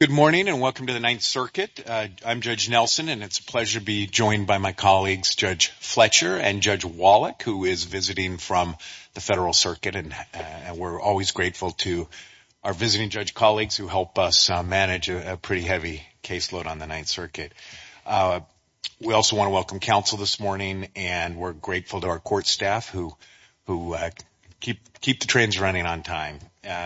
Good morning and welcome to the Ninth Circuit. I'm Judge Nelson and it's a pleasure to be joined by my colleagues Judge Fletcher and Judge Wallach who is visiting from the Federal Circuit and we're always grateful to our visiting judge colleagues who help us manage a pretty heavy caseload on the Ninth Circuit. We also want to welcome counsel this morning and we're grateful to our court staff who who keep keep the trains running on time.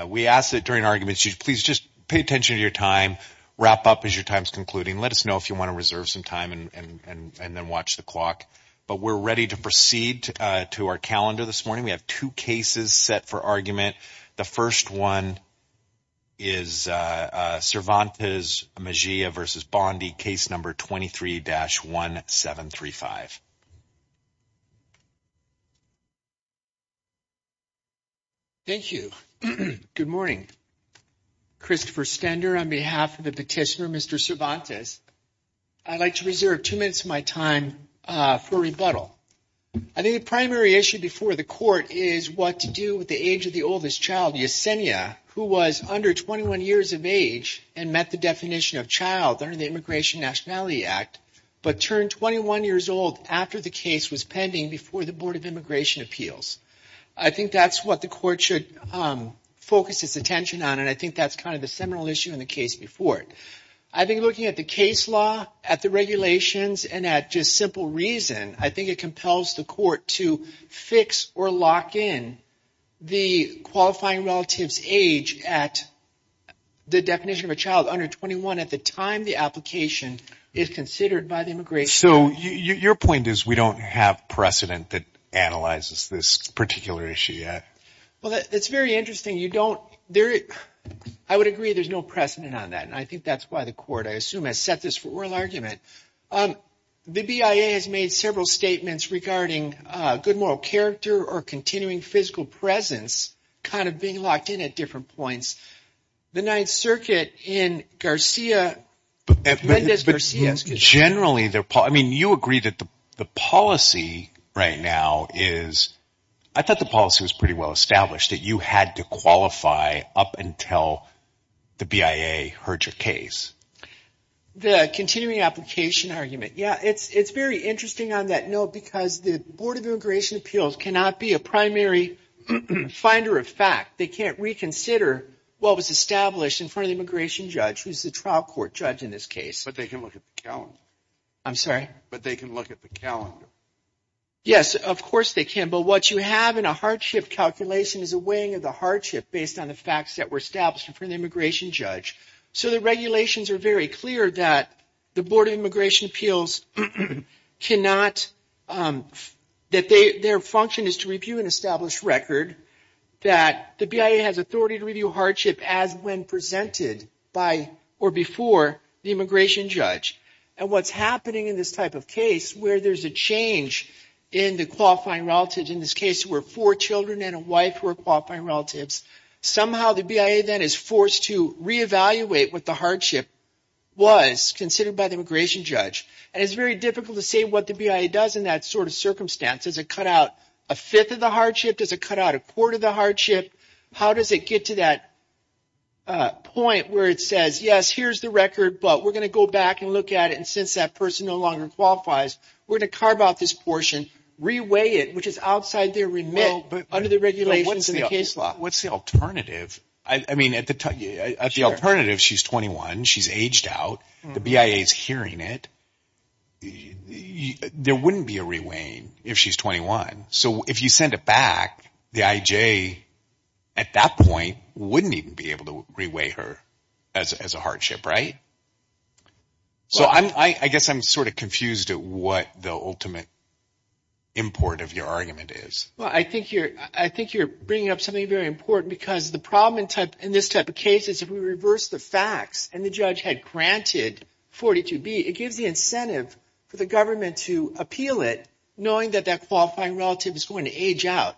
We ask that during arguments you please just pay attention to your time, wrap up as your time is concluding, let us know if you want to reserve some time and and and then watch the clock. But we're ready to proceed to our calendar this morning. We have two cases set for argument. The first one is Cervantes Mejia v. Bondi case number 23-1735. Thank you. Good morning. Christopher Stender on behalf of the petitioner Mr. Cervantes. I'd like to reserve two minutes of my time for rebuttal. I think the primary issue before the court is what to do with the age of the oldest child Yesenia who was under 21 years of age and met the definition of child under the Immigration Nationality Act but turned 21 years old after the case was pending before the Board of Immigration Appeals. I think that's what the court should focus its attention on and I think that's kind of the seminal issue in the case before it. I've been looking at the case law, at the regulations, and at just simple reason. I think it compels the court to fix or lock in the qualifying relative's age at the definition of a child under 21 at the time the application is considered by the immigration. So your point is we don't have precedent that analyzes this particular issue yet. Well that's very interesting. I would agree there's no precedent on that and I think that's why the court I assume has set this for oral argument. The BIA has made several statements regarding good moral character or continuing physical presence kind of being locked in at different points. The Ninth Circuit in Garcia. But generally, I mean you agree that the policy right now is, I thought the policy was pretty well established that you had to qualify up until the BIA heard your case. The continuing application argument, yeah it's it's very interesting on that note because the Board of Immigration Appeals cannot be a primary finder of fact. They can't reconsider what was established in front of the immigration judge, who's the trial court judge in this case. But they can look at the calendar. I'm sorry? But they can look at the calendar. Yes, of course they can. But what you have in a hardship calculation is a weighing of the hardship based on the facts that were established in front of the immigration judge. So the regulations are very clear that the Board of Immigration Appeals cannot, that their function is to review an established record. That the BIA has authority to review a hardship as when presented by or before the immigration judge. And what's happening in this type of case where there's a change in the qualifying relatives, in this case were four children and a wife who are qualifying relatives, somehow the BIA then is forced to re-evaluate what the hardship was considered by the immigration judge. And it's very difficult to say what the BIA does in that sort of circumstance. Does it cut out a fifth of the hardship? Does it cut out a quarter of the hardship? How does it get to that point where it says, yes, here's the record, but we're going to go back and look at it. And since that person no longer qualifies, we're going to carve out this portion, re-weigh it, which is outside their remit under the regulations in the case law. What's the alternative? I mean, at the time, at the alternative, she's 21. She's aged out. The BIA is hearing it. There wouldn't be a re-weighing if she's 21. So if you send it back, the IJ at that point wouldn't even be able to re-weigh her as a hardship, right? So I guess I'm sort of confused at what the ultimate import of your argument is. Well, I think you're bringing up something very important because the problem in this type of case is if we reverse the facts and the judge had granted 42B, it gives the incentive for the government to appeal it knowing that qualifying relative is going to age out.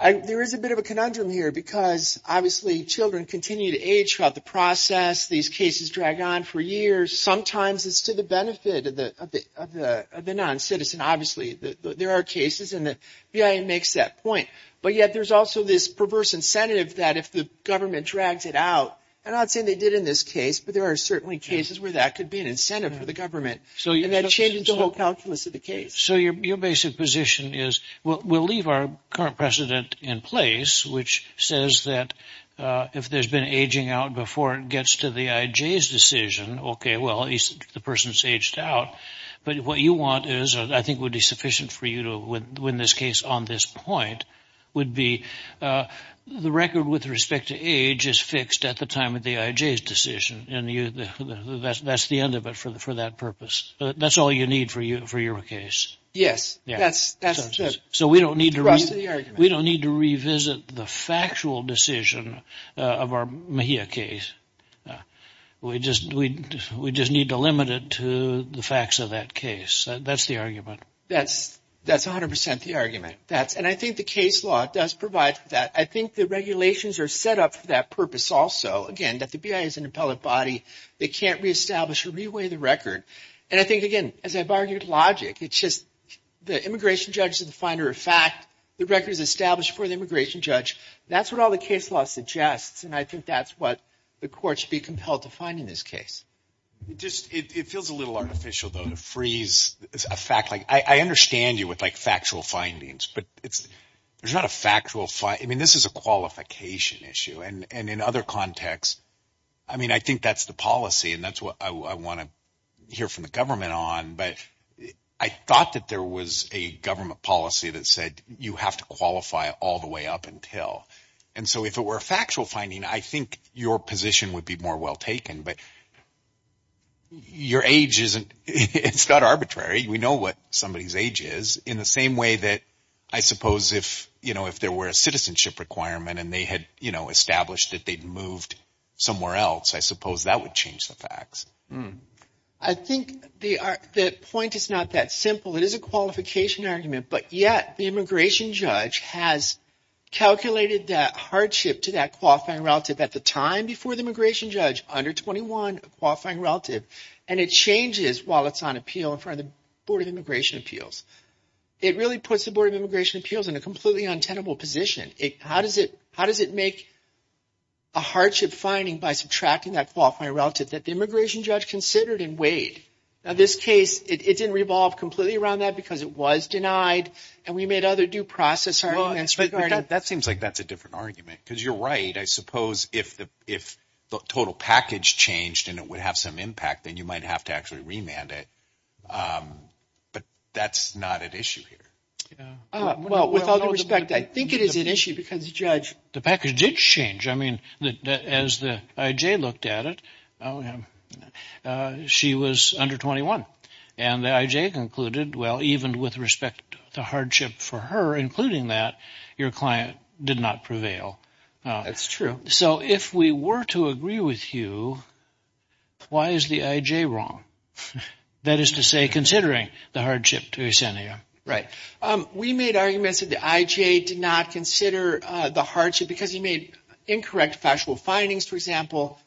There is a bit of a conundrum here because, obviously, children continue to age throughout the process. These cases drag on for years. Sometimes it's to the benefit of the non-citizen. Obviously, there are cases and the BIA makes that point. But yet there's also this perverse incentive that if the government drags it out, and I'm not saying they did in this case, but there are certainly cases where that could be an incentive for the government. And that changes the whole calculus of the case. So your basic position is we'll leave our current precedent in place, which says that if there's been aging out before it gets to the IJ's decision, okay, well, the person's aged out. But what you want is, I think would be sufficient for you to win this case on this point, would be the record with respect to age is fixed at the time of the IJ's decision. And that's the end of it for that purpose. That's all you need for your case. Yes, that's it. So we don't need to revisit the factual decision of our MHIA case. We just need to limit it to the facts of that case. That's the argument. That's 100% the argument. And I think the case law does provide that. I think the regulations are set up for that purpose also. Again, that the BIA is an independent body. They can't reestablish or reweigh the record. And I think, again, as I've argued, logic. It's just the immigration judge is the finder of fact. The record is established for the immigration judge. That's what all the case law suggests. And I think that's what the court should be compelled to find in this case. It feels a little artificial, though, to freeze a fact. I understand you with like factual findings, but there's not a factual... I mean, this is a I think that's the policy, and that's what I want to hear from the government on. But I thought that there was a government policy that said you have to qualify all the way up until. And so if it were a factual finding, I think your position would be more well taken. But your age isn't... it's not arbitrary. We know what somebody's age is. In the same way that I suppose if there were a citizenship requirement and they had established that they'd moved somewhere else, I suppose that would change the facts. I think the point is not that simple. It is a qualification argument, but yet the immigration judge has calculated that hardship to that qualifying relative at the time before the immigration judge, under 21, a qualifying relative. And it changes while it's on appeal in front of the Board of Immigration Appeals. It really puts the Board of Immigration Appeals in a completely untenable position. How does it make a hardship finding by subtracting that qualifying relative that the immigration judge considered and weighed? Now, this case, it didn't revolve completely around that because it was denied, and we made other due process arguments regarding... But that seems like that's a different argument. Because you're right, I suppose if the total package changed and it would have some impact, then you might have to actually remand it. But that's not at issue here. Well, with all due respect, I think it is an issue because the judge... The package did change. I mean, as the I.J. looked at it, she was under 21. And the I.J. concluded, well, even with respect to hardship for her, including that, your client did not prevail. That's true. So if we were to agree with you, why is the I.J. wrong? That is to say, considering the hardship to Ecenia. Right. We made arguments that the I.J. did not consider the hardship because he made incorrect factual findings. For example,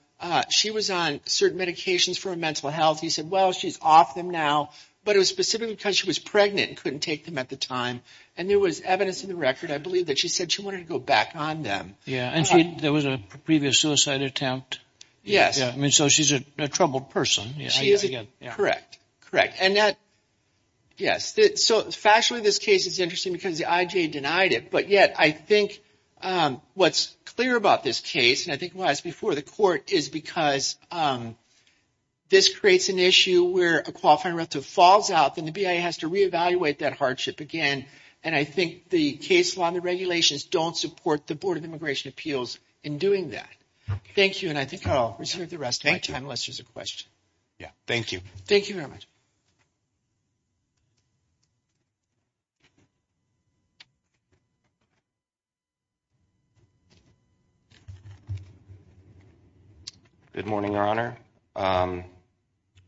she was on certain medications for her mental health. He said, well, she's off them now. But it was specifically because she was pregnant and couldn't take them at the time. And there was evidence in the record, I believe, that she said she wanted to go back on them. Yeah. And there was a previous suicide attempt. Yes. I mean, so she's a troubled person. Correct. Correct. And that. Yes. So factually, this case is interesting because the I.J. denied it. But yet I think what's clear about this case, and I think it was before the court, is because this creates an issue where a qualifying relative falls out, then the BIA has to reevaluate that hardship again. And I think the case law and the regulations don't support the Board of Immigration Appeals in doing that. Thank you. And I think I'll reserve the rest of my time unless there's a question. Yeah. Thank you. Thank you very much. Good morning, Your Honor.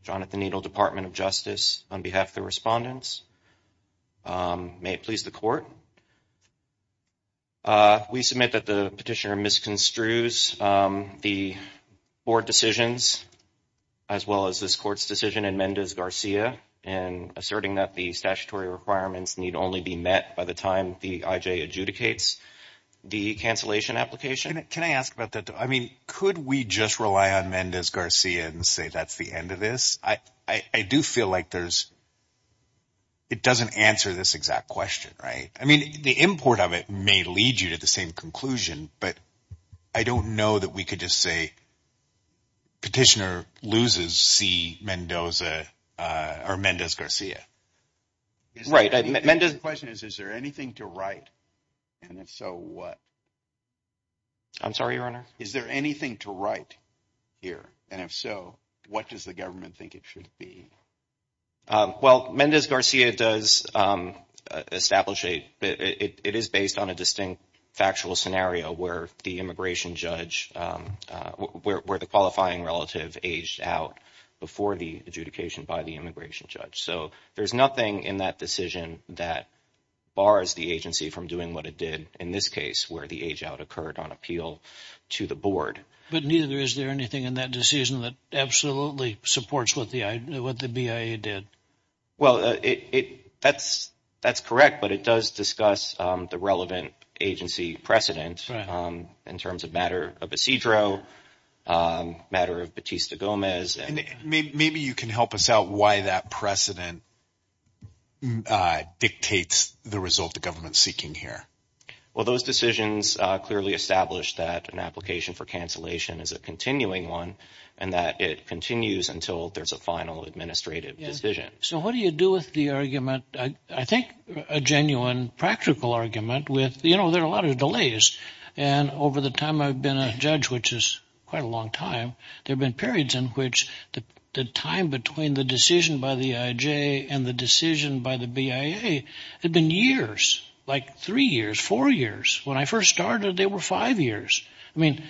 Jonathan Needle, Department of Justice, on behalf of the respondents. May it please the court. We submit that the petitioner misconstrues the board decisions as well as this court's decision in Mendez-Garcia in asserting that the statutory requirements need only be met by the time the I.J. adjudicates the cancellation application. Can I ask about that? I mean, could we just rely on Mendez-Garcia and say that's the end of this? I do feel like there's. It doesn't answer this exact question, right? I mean, the import of it may lead you to the same conclusion, but I don't know that we could just say. Petitioner loses C. Mendoza or Mendez-Garcia. Right. The question is, is there anything to write? And if so, what? I'm sorry, Your Honor. Is there anything to write here? And if so, what does the government think it should be? Well, Mendez-Garcia does establish it. It is based on a distinct factual scenario where the immigration judge, where the qualifying relative aged out before the adjudication by the immigration judge. So there's nothing in that decision that bars the agency from doing what it did in this case, where the age out occurred on appeal to the board. But neither is there anything in that decision that absolutely supports what the BIA did. Well, that's correct, but it does discuss the relevant agency precedent in terms of matter of a procedural matter of Batista Gomez. Maybe you can help us out why that precedent dictates the result the government's seeking here. Well, those decisions clearly established that an application for cancellation is a continuing one and that it continues until there's a final administrative decision. So what do you do with the argument? I think a genuine practical argument with, you know, there are a lot of delays. And over the time I've been a judge, which is quite a long time, there have been periods in which the time between the decision by the IJ and the decision by the BIA had been years, like three years, four years. When I first started, they were five years. I mean,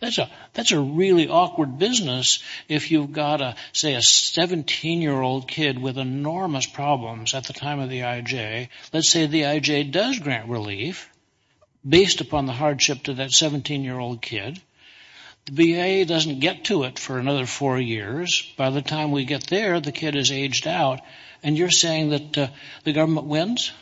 that's a really awkward business if you've got, say, a 17-year-old kid with enormous problems at the time of the IJ. Let's say the IJ does grant relief based upon the hardship to that 17-year-old kid. The BIA doesn't get to it for another four years. By the time we get there, the kid is aged out and you're saying that the government wins?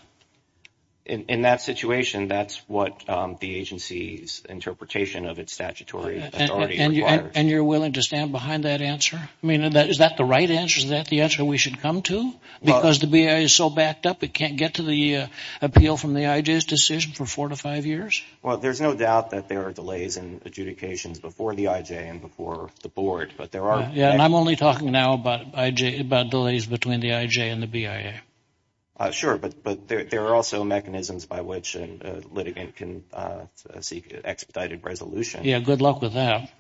In that situation, that's what the agency's interpretation of its And you're willing to stand behind that answer? I mean, is that the right answer? Is that the answer we should come to? Because the BIA is so backed up, it can't get to the appeal from the IJ's decision for four to five years. Well, there's no doubt that there are delays in adjudications before the IJ and before the board, but there are... Yeah, and I'm only talking now about IJ, about delays between the IJ and the BIA. Sure, but there are also mechanisms by which a litigant can seek expedited resolution. Yeah, good luck with that.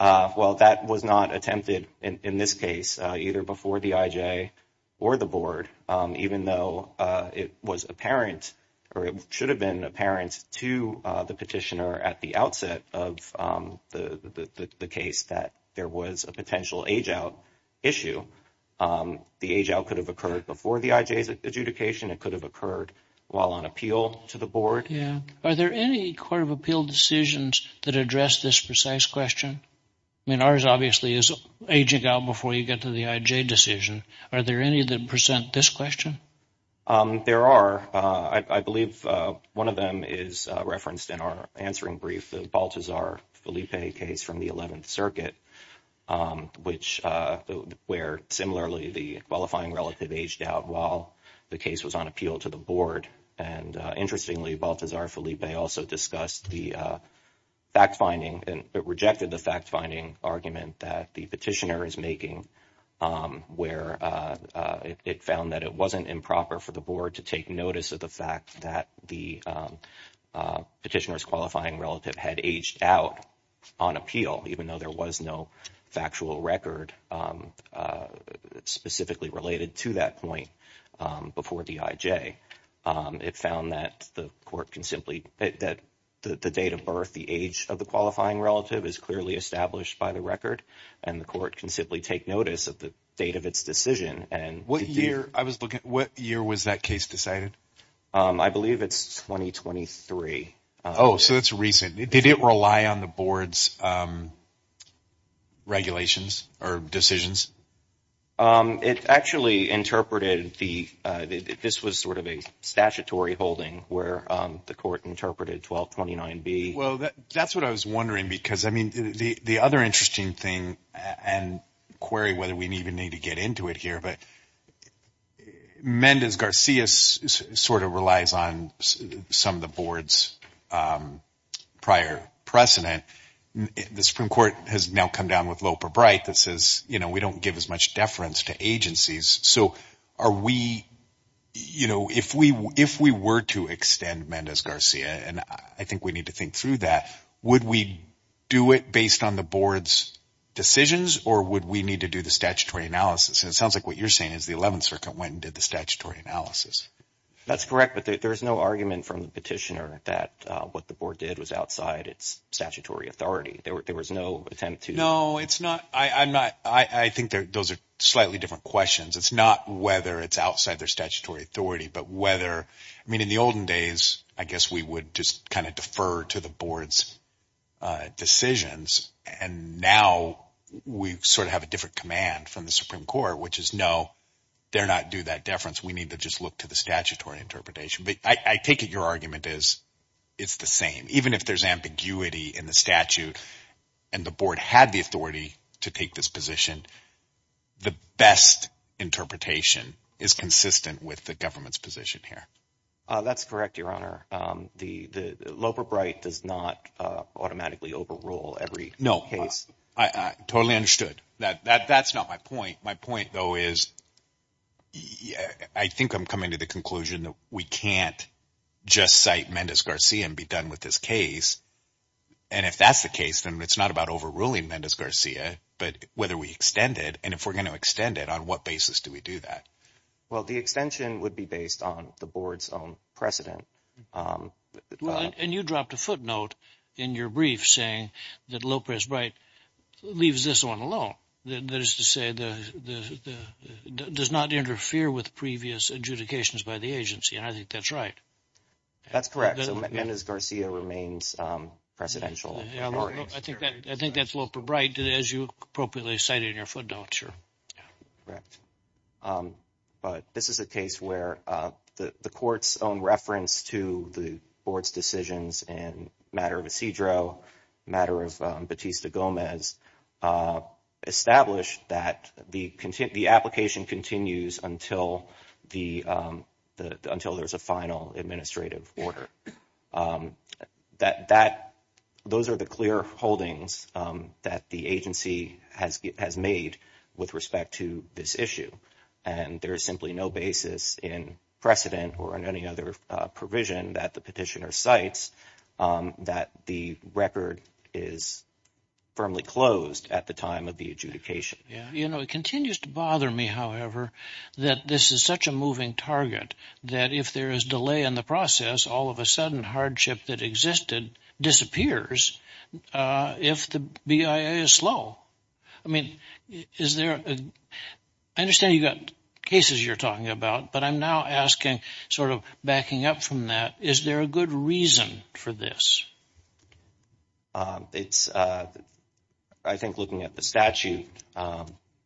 Well, that was not attempted in this case, either before the IJ or the board, even though it was apparent or it should have been apparent to the petitioner at the outset of the case that there was a potential age-out issue. The age-out could have occurred before the IJ's adjudication. It could have occurred while on appeal to the board. Yeah. Are there any Court of Appeal decisions that address this precise question? I mean, ours obviously is ageing out before you get to the IJ decision. Are there any that present this question? There are. I believe one of them is referenced in our answering brief, the Baltazar-Felipe case from the 11th aged out while the case was on appeal to the board. And interestingly, Baltazar-Felipe also discussed the fact-finding and rejected the fact-finding argument that the petitioner is making, where it found that it wasn't improper for the board to take notice of the fact that the petitioner's qualifying relative had aged out on appeal, even though there was no factual record specifically related to that point before the IJ. It found that the court can simply, that the date of birth, the age of the qualifying relative is clearly established by the record and the court can simply take notice of the date of its decision. And what year, I was looking, what year was that case decided? I believe it's 2023. Oh, so that's recent. Did it rely on the board's regulations or decisions? It actually interpreted the, this was sort of a statutory holding where the court interpreted 1229B. Well, that's what I was wondering because, I mean, the other interesting thing, and query whether we even need to get into it here, but Mendez-Garcia sort of relies on some of the board's prior precedent. The Supreme Court has now come down with Loeb or Bright that says, you know, we don't give as much deference to agencies. So are we, you know, if we were to extend Mendez-Garcia, and I think we need to think through that, would we do it based on the board's decisions or would we need to do the statutory analysis? And it sounds like what you're saying is the Eleventh Circuit went and did the statutory analysis. That's correct, but there's no argument from the petitioner that what the board did was outside its statutory authority. There was no attempt to. No, it's not, I'm not, I think those are slightly different questions. It's not whether it's outside their statutory authority, but whether, I mean, in the olden days, I guess we would just kind of defer to the board's decisions, and now we sort of have a different command from the Supreme Court, which is no, they're not due that deference. We need to just look to the statutory interpretation, but I take it your argument is it's the same. Even if there's ambiguity in the statute, and the board had the authority to take this position, the best interpretation is consistent with the government's position here. That's correct, Your Honor. Loeb or Bright does not automatically overrule every case. No, I totally understood. That's not my point. My point, though, is I think I'm coming to the conclusion that we can't just cite Mendez-Garcia and be done with this case, and if that's the case, then it's not about overruling Mendez-Garcia, but whether we extend it, and if we're going to extend it, on what basis do we do that? Well, the extension would be based on the board's own precedent. And you dropped a footnote in your brief saying that Loeb or Bright leaves this one alone. That is to say, does not interfere with previous adjudications by the agency, and I think that's right. That's correct. So Mendez-Garcia remains presidential. I think that's Loeb or Bright, as you appropriately cited in your footnote, sure. Correct. But this is a case where the court's own reference to the board's decisions in matter of Isidro, matter of Batista-Gomez, established that the application continues until there's a final administrative order. Those are the clear holdings that the agency has made with respect to this issue, and there is simply no basis in precedent or in any other provision that the petitioner cites that the record is firmly closed at the time of the adjudication. You know, it continues to bother me, however, that this is such a moving target, that if there is delay in the process, all of a sudden hardship that existed disappears if the BIA is slow. I mean, I understand you've got cases you're talking about, but I'm now asking, sort of backing up from that, is there a good reason for this? It's, I think looking at the statute,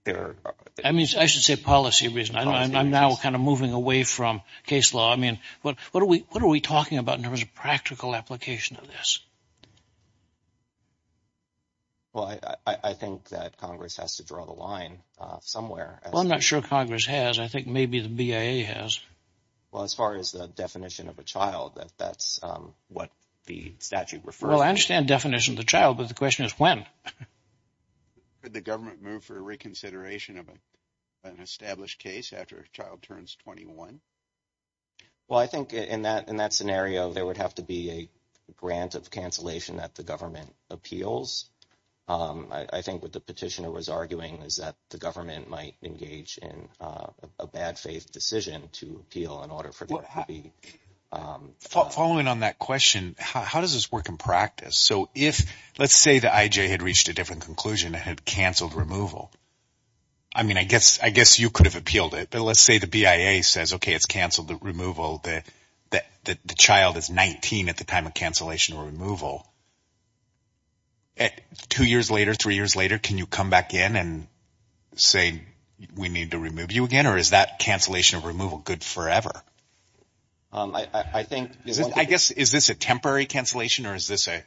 there... I mean, I should say policy reason. I'm now kind of moving away from case law. I mean, what are we talking about in terms of practical application of this? Well, I think that Congress has to draw the line somewhere. I'm not sure Congress has. I think maybe the BIA has. Well, as far as the definition of a child, that's what the statute refers to. Well, I understand definition of the child, but the question is when? Could the government move for a reconsideration of an established case after a child turns 21? Well, I think in that scenario, there would have to be a grant of cancellation that the government appeals. I think what the was arguing is that the government might engage in a bad faith decision to appeal in order for... Following on that question, how does this work in practice? So, if let's say the IJ had reached a different conclusion, it had canceled removal. I mean, I guess you could have appealed it, but let's say the BIA says, okay, it's canceled the removal. The child is 19 at the time of cancellation or removal. Two years later, three years later, can you come back in and say, we need to remove you again, or is that cancellation of removal good forever? I think... I guess, is this a temporary cancellation or is this an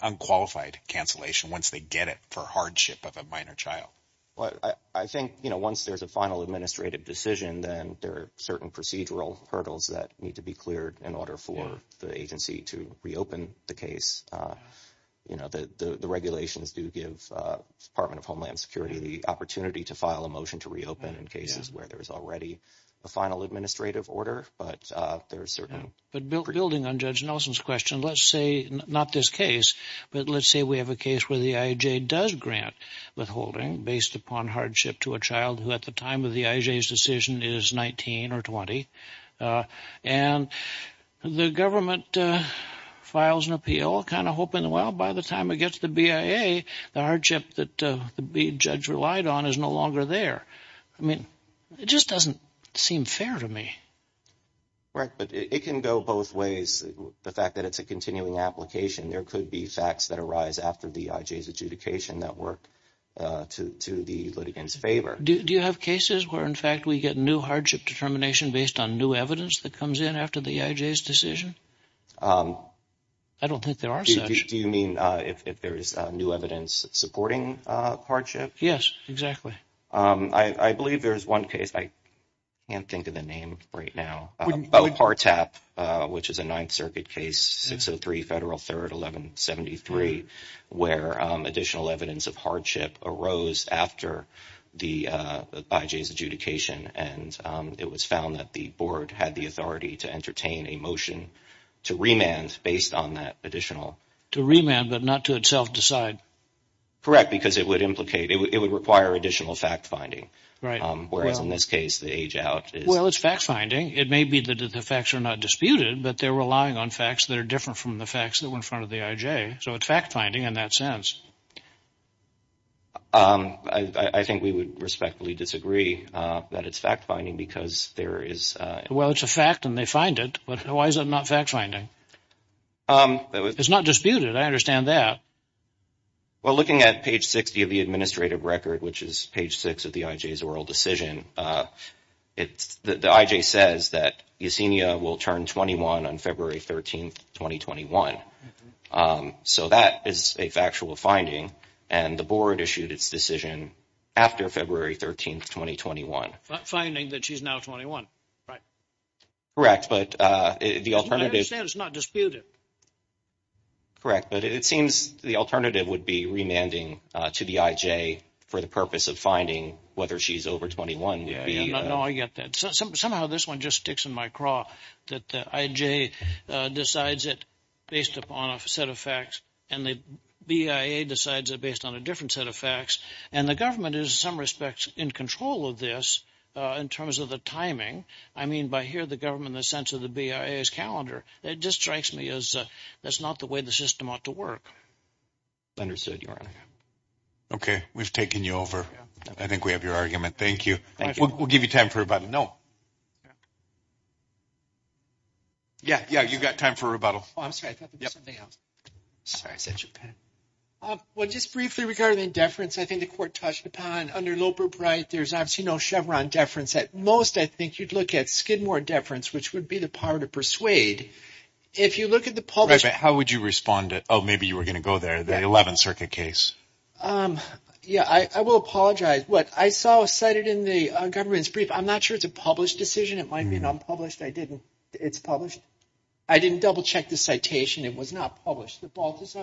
unqualified cancellation once they get it for hardship of a minor child? Well, I think, you know, once there's a final administrative decision, then there are certain procedural hurdles that need to be cleared in order for the agency to reopen the case. You know, the regulations do give Department of Homeland Security the opportunity to file a motion to reopen in cases where there is already a final administrative order, but there are certain... But building on Judge Nelson's question, let's say, not this case, but let's say we have a case where the IJ does grant withholding based upon hardship to a child who at the time of the IJ's decision is 19 or 20, and the government files an appeal, kind of hoping, well, by the time it gets to the BIA, the hardship that the judge relied on is no longer there. I mean, it just doesn't seem fair to me. Right, but it can go both ways. The fact that it's a continuing application, there could be facts that arise after the IJ's adjudication that work to the litigant's favor. Do you have cases where, in fact, we get new hardship determination based on new evidence that comes in after the IJ's decision? I don't think there are such. Do you mean if there is new evidence supporting hardship? Yes, exactly. I believe there is one case, I can't think of the name right now, about Partap, which is a Ninth Circuit case, 603 Federal 3rd 1173, where additional evidence of hardship arose after the IJ's adjudication, and it was found that the board had the authority to entertain a motion to remand based on that additional... To remand, but not to itself decide? Correct, because it would implicate, it would require additional fact-finding. Right. Whereas in this case, the age-out is... Well, it's fact-finding. It may be that the facts are not disputed, but they're relying on facts that are different from the facts that were in the IJ, so it's fact-finding in that sense. I think we would respectfully disagree that it's fact-finding because there is... Well, it's a fact and they find it, but why is it not fact-finding? It's not disputed, I understand that. Well, looking at page 60 of the administrative record, which is page 6 of the IJ's oral decision, the IJ says that Yesenia will turn 21 on February 13th, 2021. So that is a factual finding, and the board issued its decision after February 13th, 2021. Finding that she's now 21, right? Correct, but the alternative... I understand it's not disputed. Correct, but it seems the alternative would be remanding to the IJ for the purpose of finding whether she's over 21. Yeah, I get that. Somehow this one just sticks in my craw that the IJ decides it based upon a set of facts and the BIA decides it based on a different set of facts, and the government is in some respects in control of this in terms of the timing. I mean, by here the government in the sense of the BIA's calendar, it just strikes me as that's not the way the system ought to work. Understood, Your Honor. Okay, we've taken you over. I think we have your argument. Thank you. We'll give you time for a rebuttal. No. Yeah, yeah, you've got time for a rebuttal. I'm sorry, I thought there was something else. Sorry, I said Japan. Well, just briefly regarding deference, I think the court touched upon under Loper-Bright, there's obviously no Chevron deference. At most, I think you'd look at Skidmore deference, which would be the power to persuade. If you look at the public... Right, but how would you respond to, oh, maybe you were going to go there, the 11th Circuit case? Yeah, I will apologize. What I saw cited in the government's brief, I'm not sure it's a published decision. It might be non-published. I didn't... It's published? I didn't double-check the citation. It was not published. It looks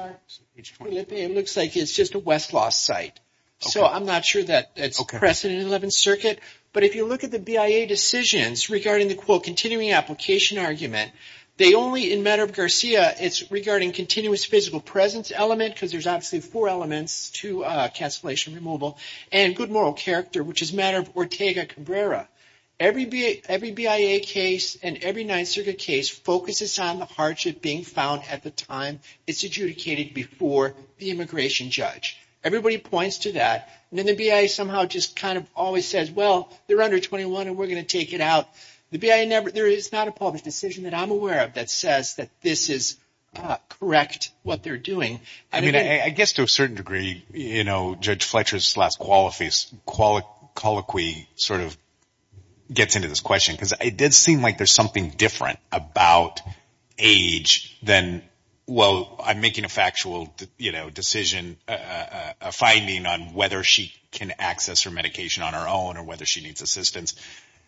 like it's just a Westlaw site, so I'm not sure that it's precedent in the 11th Circuit, but if you look at the BIA decisions regarding the, quote, continuing application argument, they only, in matter of Garcia, it's regarding continuous physical presence element, because there's obviously four elements to cancellation removal, and good moral character, which is matter of Taga Cabrera. Every BIA case and every 9th Circuit case focuses on the hardship being found at the time it's adjudicated before the immigration judge. Everybody points to that, and then the BIA somehow just kind of always says, well, they're under 21, and we're going to take it out. The BIA never... There is not a published decision that I'm aware of that says that this is correct, what they're doing. I mean, I guess to a certain degree, you know, Judge Fletcher's colloquy sort of gets into this question, because it did seem like there's something different about age than, well, I'm making a factual, you know, decision, a finding on whether she can access her medication on her own or whether she needs assistance.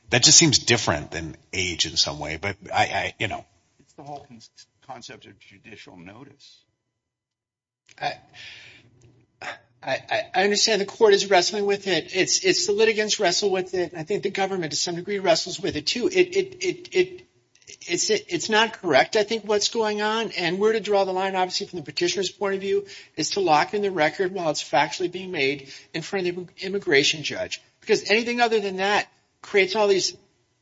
That just seems different than age in some way, but it's the whole concept of judicial notice. I understand the court is wrestling with it. It's the litigants wrestle with it. I think the government, to some degree, wrestles with it, too. It's not correct, I think, what's going on, and where to draw the line, obviously, from the petitioner's point of view, is to lock in the record while it's factually being made in front of the immigration judge, because anything other than that creates all these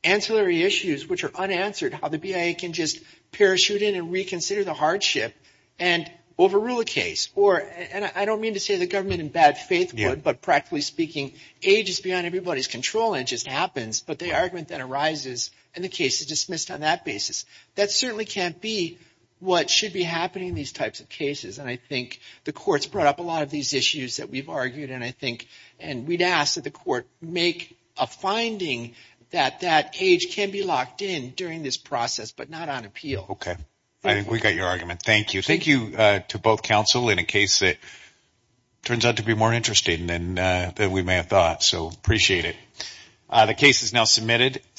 ancillary issues which are unanswered, how the BIA can just parachute in and reconsider the hardship and overrule a case, or, and I don't mean to say the government in bad faith would, but practically speaking, age is beyond everybody's control, and it just happens, but the argument then arises, and the case is dismissed on that basis. That certainly can't be what should be happening in these types of cases, and I think the court's brought up a lot of these issues that we've argued, and I think, and we'd ask that the court make a finding that that age can be locked in during this process, but not on appeal. Okay, I think we got your argument. Thank you. Thank you to both counsel in a case that turns out to be more interesting than we may have thought, so appreciate it. The case is now submitted.